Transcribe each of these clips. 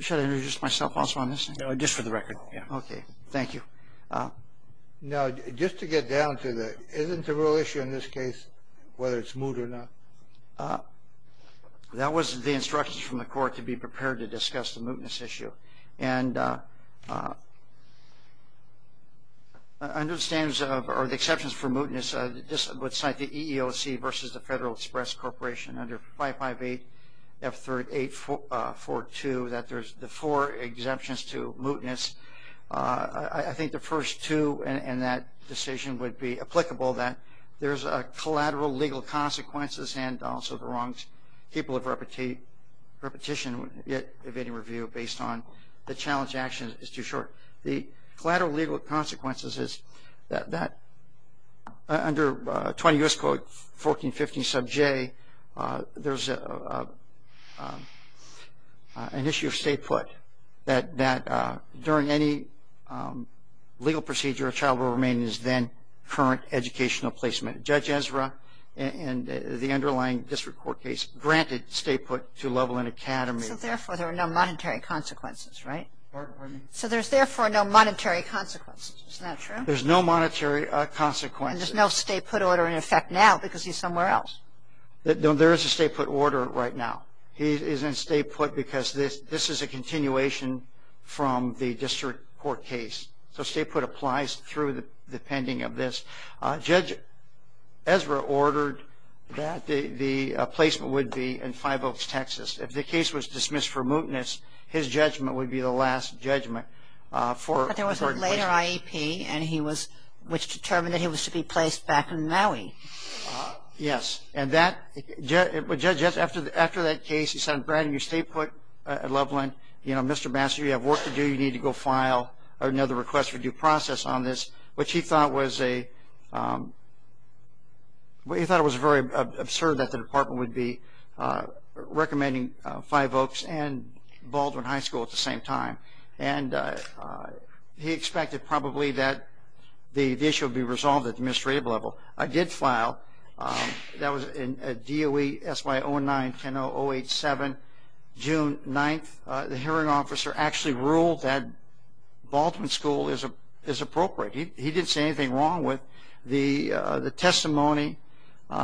Should I introduce myself also on this? No, just for the record. Okay. Thank you. Now, just to get down to the, isn't the real issue in this case whether it's moot or not? That was the instructions from the court to be prepared to discuss the mootness issue and Under the standards of, or the exceptions for mootness, this would cite the EEOC versus the Federal Express Corporation under 558F3842, that there's the four exemptions to mootness. I think the first two in that decision would be applicable that there's a collateral legal consequences and also the wrongs. People have repetition yet evading review based on the challenge action is too short. The collateral legal consequences is that under 20 U.S. Code 1415 sub J there's an issue of stay put that that during any legal procedure a child will remain is then current educational placement. Judge Ezra and the underlying district court case granted stay put to level in academy. So therefore there are no monetary consequences, right? So there's therefore no monetary consequences, is that true? There's no monetary consequences. And there's no stay put order in effect now because he's somewhere else. There is a stay put order right now. He is in stay put because this this is a continuation from the district court case. So stay put applies through the pending of this. Judge Ezra ordered that the the placement would be in Five Oaks, Texas. If the case was dismissed for mootness his judgment would be the last judgment. But there was a later IEP and he was, which determined that he was to be placed back in Maui. Yes, and that Judge Ezra, after that case, he said I'm granting you stay put at Loveland. You know, Mr. Master, you have work to do. You need to go file another request for due process on this, which he thought was a Well, he thought it was very absurd that the department would be recommending Five Oaks and Baldwin High School at the same time and he expected probably that the issue would be resolved at the administrative level. I did file that was in a DOE SY09-10087, June 9th. The hearing officer actually ruled that Baldwin School is appropriate. He didn't say anything wrong with the the testimony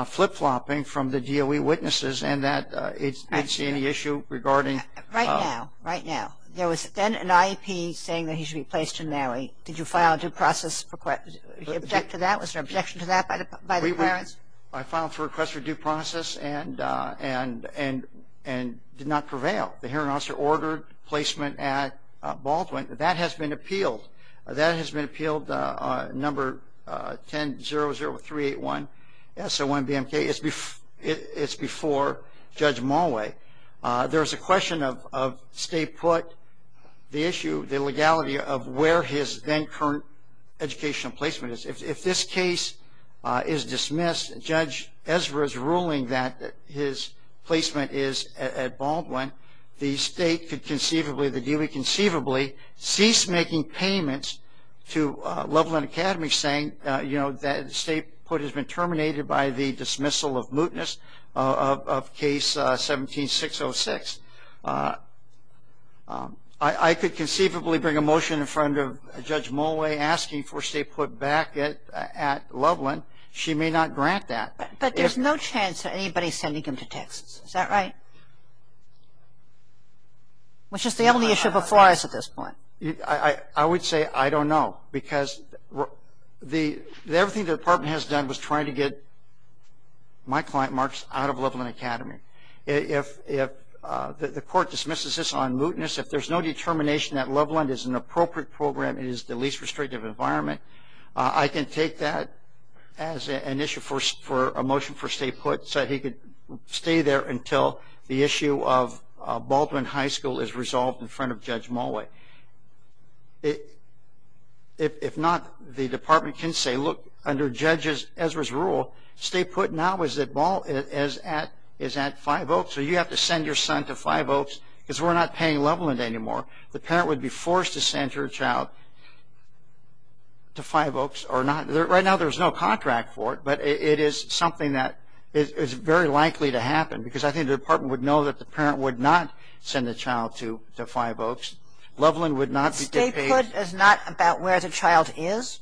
flip-flopping from the DOE witnesses and that it's not see any issue regarding... Right now, right now. There was then an IEP saying that he should be placed in Maui. Did you file a due process request? Object to that? Was there an objection to that by the parents? I filed for a request for due process and and and did not prevail. The hearing officer ordered placement at Baldwin. That has been appealed. That has been appealed number 10-00381 S01-BMK. It's before Judge Mulway. There's a question of state put the issue, the legality of where his then current educational placement is. If this case is dismissed, Judge Ezra's ruling that his placement is at Baldwin, the state could conceivably, the DOE conceivably, cease making payments to Loveland Academy saying, you know, that state put has been terminated by the dismissal of mootness of Case 17-606. I could conceivably bring a motion in front of Judge Mulway asking for state put back at Loveland. She may not grant that. But there's no chance of anybody sending him to Texas. Is that right? Which is the only issue before us at this point. I would say I don't know because the everything the department has done was trying to get my client marks out of Loveland Academy. If the court dismisses this on mootness, if there's no determination that Loveland is an appropriate program, it is the least restrictive environment, I can take that as an issue for a motion for state put so he could stay there until the issue of Baldwin High School is resolved in front of Judge Mulway. If not, the department can say, look, under Judge Ezra's rule, state put now is that Baldwin is at 5 Oaks, so you have to send your son to 5 Oaks because we're not paying Loveland anymore. The parent would be forced to send your child to 5 Oaks or not. Right now there's no contract for it, but it is something that is very likely to happen because I think the department would know that the parent would not send the child to 5 Oaks. Loveland would not be paid. If state put is not about where the child is,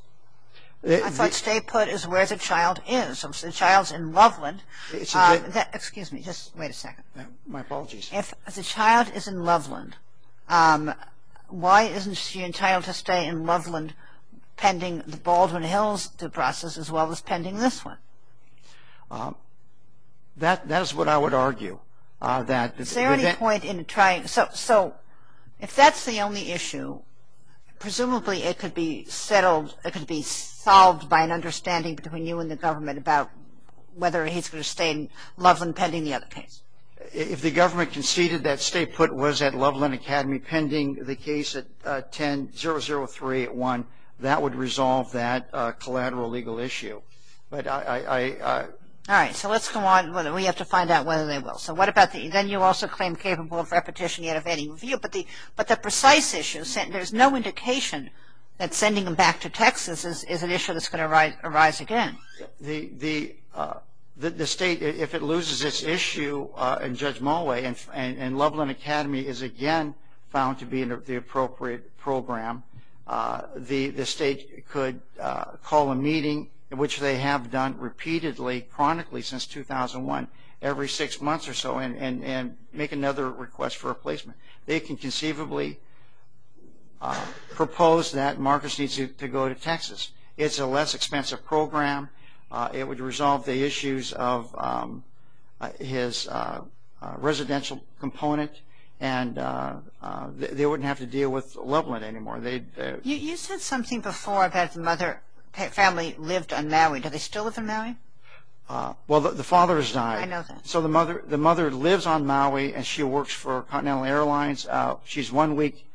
I thought state put is where the child is. If the child's in Loveland, excuse me, just wait a second. My apologies. If the child is in Loveland, why isn't she entitled to stay in Loveland pending the Baldwin Hills process as well as pending this one? That is what I would argue. So if that's the only issue, presumably it could be solved by an understanding between you and the government about whether he's going to stay in Loveland pending the other case. If the government conceded that state put was at Loveland Academy pending the case at 100381, that would resolve that collateral legal issue. All right, so let's go on. We have to find out whether they will. Then you also claim capable of repetition yet of any review, but the precise issue, there's no indication that sending him back to Texas is an issue that's going to arise again. The state, if it loses this issue in Judge Mulway and Loveland Academy is again found to be the appropriate program, the state could call a meeting, which they have done repeatedly, chronically since 2001, every six months or so and make another request for a placement. They can conceivably propose that Marcus needs to go to Texas. It's a less expensive program. It would resolve the issues of his residential component and they wouldn't have to deal with Loveland anymore. You said something before about the mother family lived on Maui. Do they still live in Maui? Well, the father has died. I know that. So the mother lives on Maui and she works for Continental Airlines. She's one week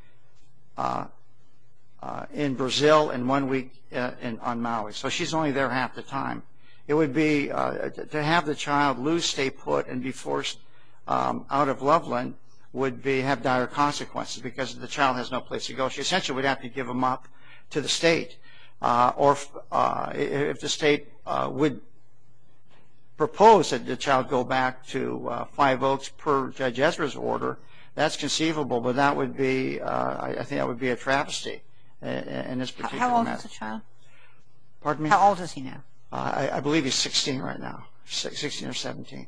in Brazil and one week on Maui. So she's only there half the time. It would be, to have the child lose state put and be forced out of Loveland would have dire consequences because the child has no place to go. She essentially would have to give him up to the state or if the state would propose that the child go back to five votes per Judge Ezra's order, that's conceivable, but that would be, I think that would be a travesty in this particular matter. How old is the child? Pardon me? How old is he now? I believe he's 16 right now, 16 or 17.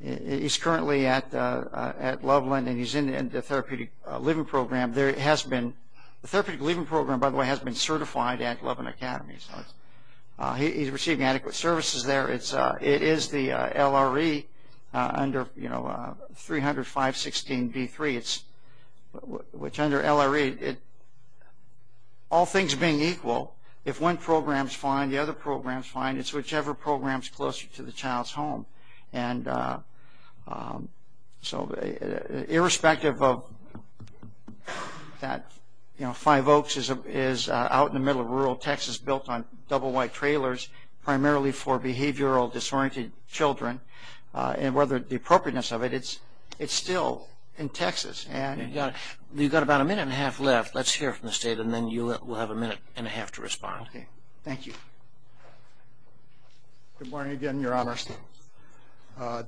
He's currently at Loveland and he's in the Therapeutic Living Program. The Therapeutic Living Program, by the way, has been certified at Loveland Academy. He's receiving adequate services there. It is the LRE under 300.516.B3, which under LRE, all things being equal, if one program's fine, the other program's fine, it's whichever program's closer to the child's home. So irrespective of that five oaks is out in the middle of rural Texas built on double white trailers primarily for behavioral disoriented children and whether the appropriateness of it, it's still in Texas. You've got about a minute and a half left. Let's hear from the state and then you will have a minute and a half to respond. Okay, thank you. Good morning again, your honors.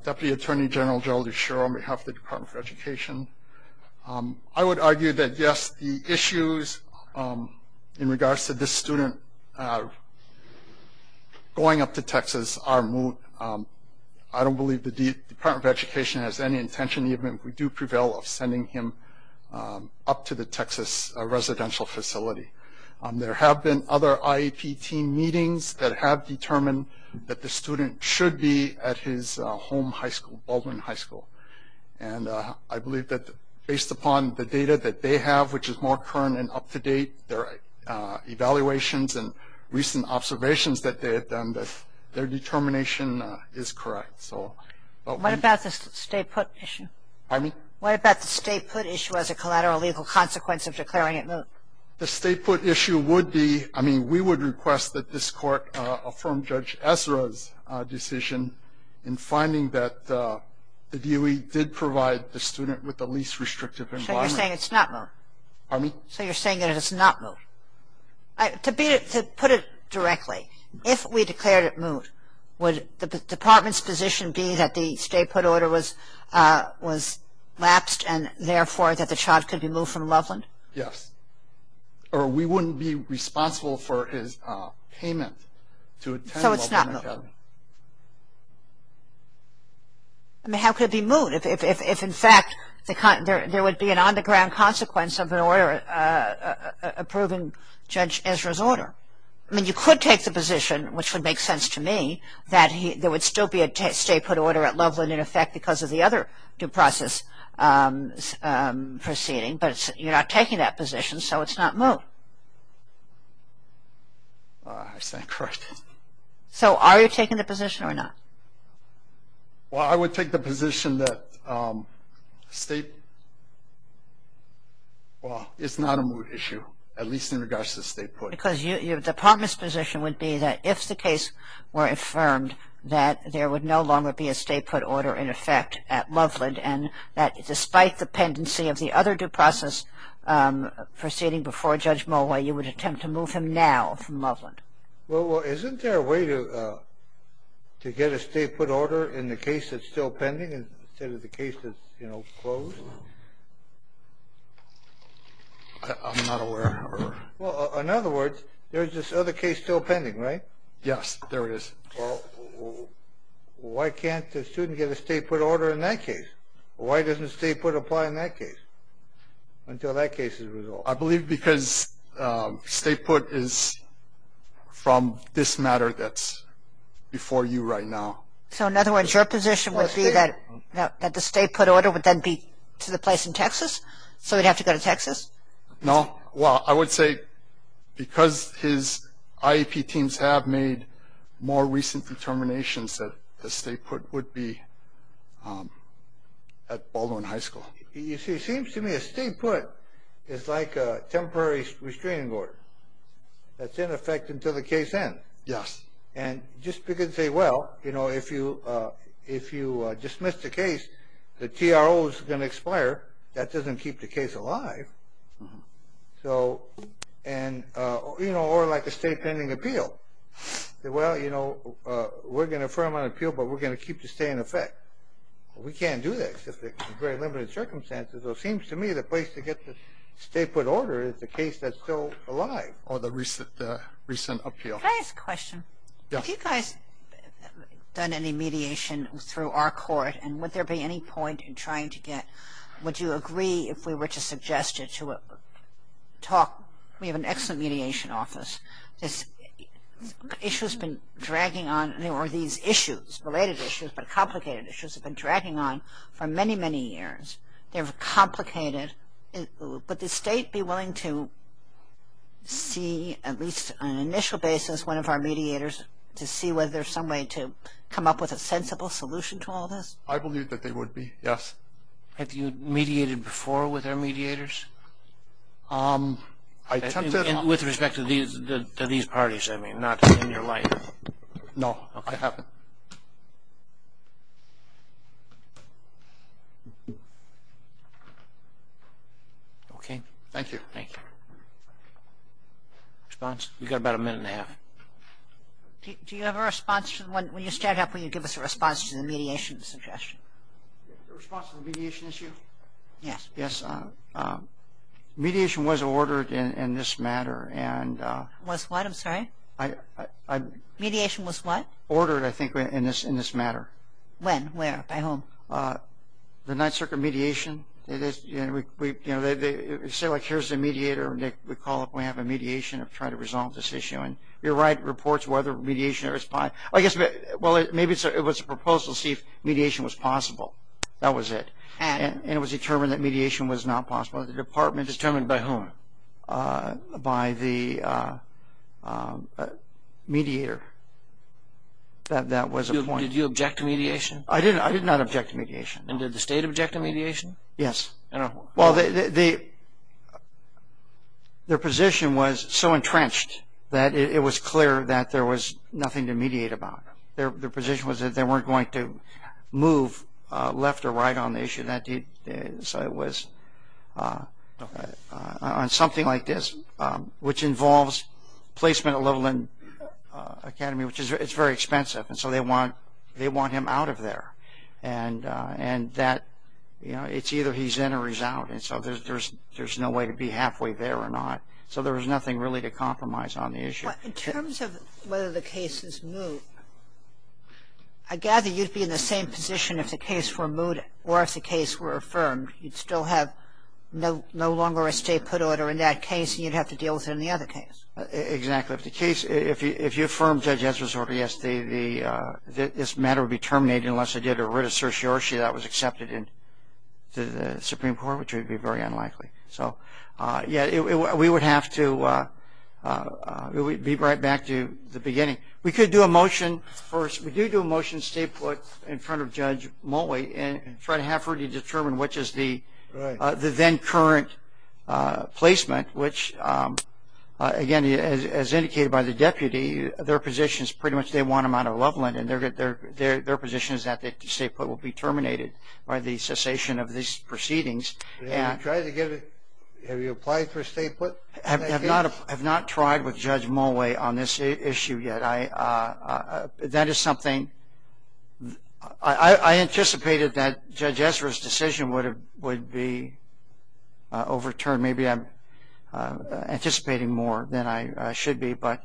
Deputy Attorney General Gerald E. Sherrill on behalf of the Department of Education. I would argue that yes, the issues in regards to this student going up to Texas are moot. I don't believe the Department of Education has any intention, even if we do prevail, of sending him up to the Texas residential facility. There have been other IEP team meetings that have determined that the student should be at his home high school, Baldwin High School. And I believe that based upon the data that they have, which is more current and up to date, their evaluations and recent observations that they have done, that their determination is correct. What about the state put issue? Pardon me? What about the state put issue as a collateral legal consequence of declaring it moot? The state put issue would be, I mean, we would request that this court affirm Judge Ezra's decision in finding that the DOE did provide the student with the least restrictive environment. So you're saying it's not moot? Pardon me? So you're saying that it's not moot? To put it directly, if we declared it moot, would the Department's position be that the state put order was lapsed and therefore that the child could be moved from Loveland? Yes. Or we wouldn't be responsible for his payment to attend Loveland. So it's not moot? I mean, how could it be moot if, in fact, there would be an on-the-ground consequence of an order approving Judge Ezra's order? I mean, you could take the position, which would make sense to me, that there would still be a state put order at Loveland in effect because of the other due process proceeding, but you're not taking that position, so it's not moot. I stand corrected. So are you taking the position or not? Well, I would take the position that state, well, it's not a moot issue, at least in regards to the Department's position would be that if the case were affirmed that there would no longer be a state put order in effect at Loveland and that despite the pendency of the other due process proceeding before Judge Mulway, you would attempt to move him now from Loveland. Well, isn't there a way to get a state put order in the case that's still pending instead of the there's this other case still pending, right? Yes, there is. Why can't the student get a state put order in that case? Why doesn't state put apply in that case until that case is resolved? I believe because state put is from this matter that's before you right now. So in other words, your position would be that the state put order would then be to the Texas? No. Well, I would say because his IEP teams have made more recent determinations that the state put would be at Baldwin High School. You see, it seems to me a state put is like a temporary restraining order that's in effect until the case ends. Yes. And just because they well, you know, if you if you dismiss the case, the TRO is going to expire. That doesn't keep the case alive. So and, you know, or like a state pending appeal. Well, you know, we're going to firm on appeal, but we're going to keep the stay in effect. We can't do that because there's very limited circumstances. It seems to me the place to get the state put order is the case that's still alive or the recent recent appeal. Can I ask a question? Have you guys done any mediation through our court? And would there be any point in trying to get? Would you agree if we were to suggest it to talk? We have an excellent mediation office. This issue has been dragging on or these issues, related issues, but complicated issues have been dragging on for many, many years. They're complicated, but the state be willing to see at least on an initial basis, one of our mediators to see whether there's some way to come up with a sensible solution to all this. I believe that they would be, yes. Have you mediated before with our mediators? Um, I attempted. With respect to these parties, I mean, not in your life? No, I haven't. Okay. Thank you. Thank you. Response? We got about a minute and a half. Do you have a response? When you stand up, will you give us a response to the mediation suggestion? The response to the mediation issue? Yes. Yes. Mediation was ordered in this matter. Was what? I'm sorry? Mediation was what? Ordered, I think, in this matter. When? Where? By whom? The Ninth Circuit mediation. It is, you know, they say like, here's the mediator. We call up, we have a mediation to try to resolve this issue. And you write reports whether mediation is fine. I guess, well, maybe it was a proposal to see if mediation was possible. That was it. And? And it was determined that mediation was not possible. The department... Determined by whom? By the mediator. That was the point. Did you object to mediation? I did not object to mediation. And did the state object to mediation? Yes. Well, their position was so entrenched that it was clear that there was nothing to mediate about. Their position was that they weren't going to move left or right on the issue. So it was on something like this, which involves placement at Littleton Academy, which is very expensive. And so they want him out of there. And that, you know, it's either he's in or he's out. And so there's no way to be halfway there or not. So there was nothing really to compromise on the issue. In terms of whether the case is moved, I gather you'd be in the same position if the case were moved or if the case were affirmed. You'd still have no longer a state put order in that case and you'd have to deal with it in the other case. Exactly. If the case, if you affirm Judge this matter would be terminated unless I did a writ of certiorari that was accepted into the Supreme Court, which would be very unlikely. So, yeah, we would have to be right back to the beginning. We could do a motion first. We do do a motion to stay put in front of Judge Motley and try to have her determine which is the then current placement, which again, as indicated by the deputy, their position is pretty much they want him out of Loveland and their position is that the state put will be terminated by the cessation of these proceedings. Have you tried to get it? Have you applied for a state put? I have not tried with Judge Motley on this issue yet. That is something I anticipated that Judge Ezra's decision would be overturned. Maybe I'm should be, but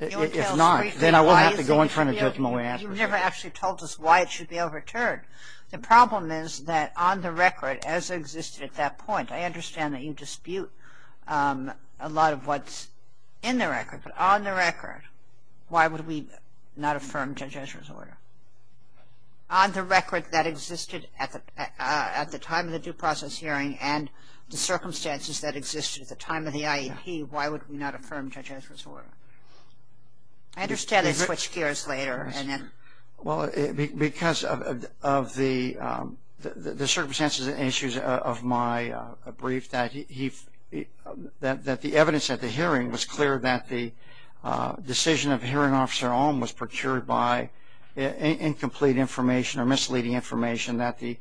if not, then I will have to go in front of Judge Motley. You never actually told us why it should be overturned. The problem is that on the record as existed at that point, I understand that you dispute a lot of what's in the record, but on the record, why would we not affirm Judge Ezra's order? On the record that existed at the time of the due process hearing and the circumstances that existed at the time of the IEP, why would we not affirm Judge Ezra's order? I understand they switched gears later. Well, because of the circumstances and issues of my brief that the evidence at the hearing was clear that the decision of hearing officer was procured by incomplete information or misleading information that the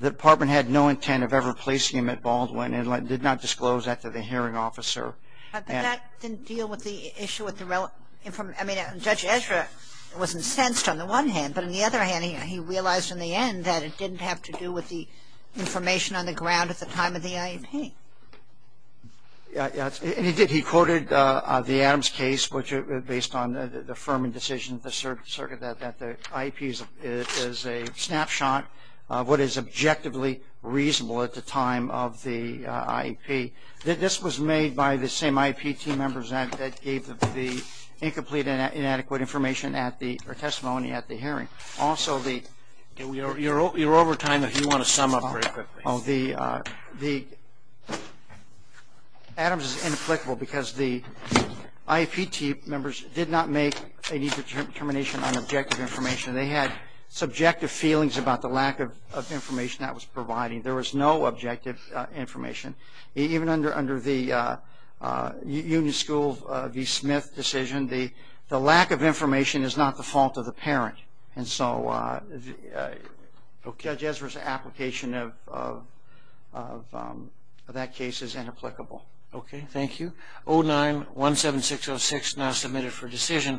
department had no intent of ever placing him at Baldwin and did not disclose that to the hearing officer. But that didn't deal with the issue with the relevant information. I mean, Judge Ezra wasn't sensed on the one hand, but on the other hand, he realized in the end that it didn't have to do with the information on the ground at the time of the IEP. Yeah, and he did. He quoted the Adams case, which based on the affirming decision of the circuit that the IEP is a snapshot of what is objectively reasonable at the time of the IEP. This was made by the same IEP team members that gave the incomplete and inadequate information at the testimony at the hearing. Also the... You're over time if you want to sum up very quickly. The Adams is inapplicable because the IEP team members did not make any determination on objective information. They had subjective feelings about the lack of information that was provided. There was no objective information. Even under the Union School v. Smith decision, the lack of information is not the fault of the parent. And so Judge Ezra's application of that case is inapplicable. Okay, thank you. 09-17606, now submitted for decision.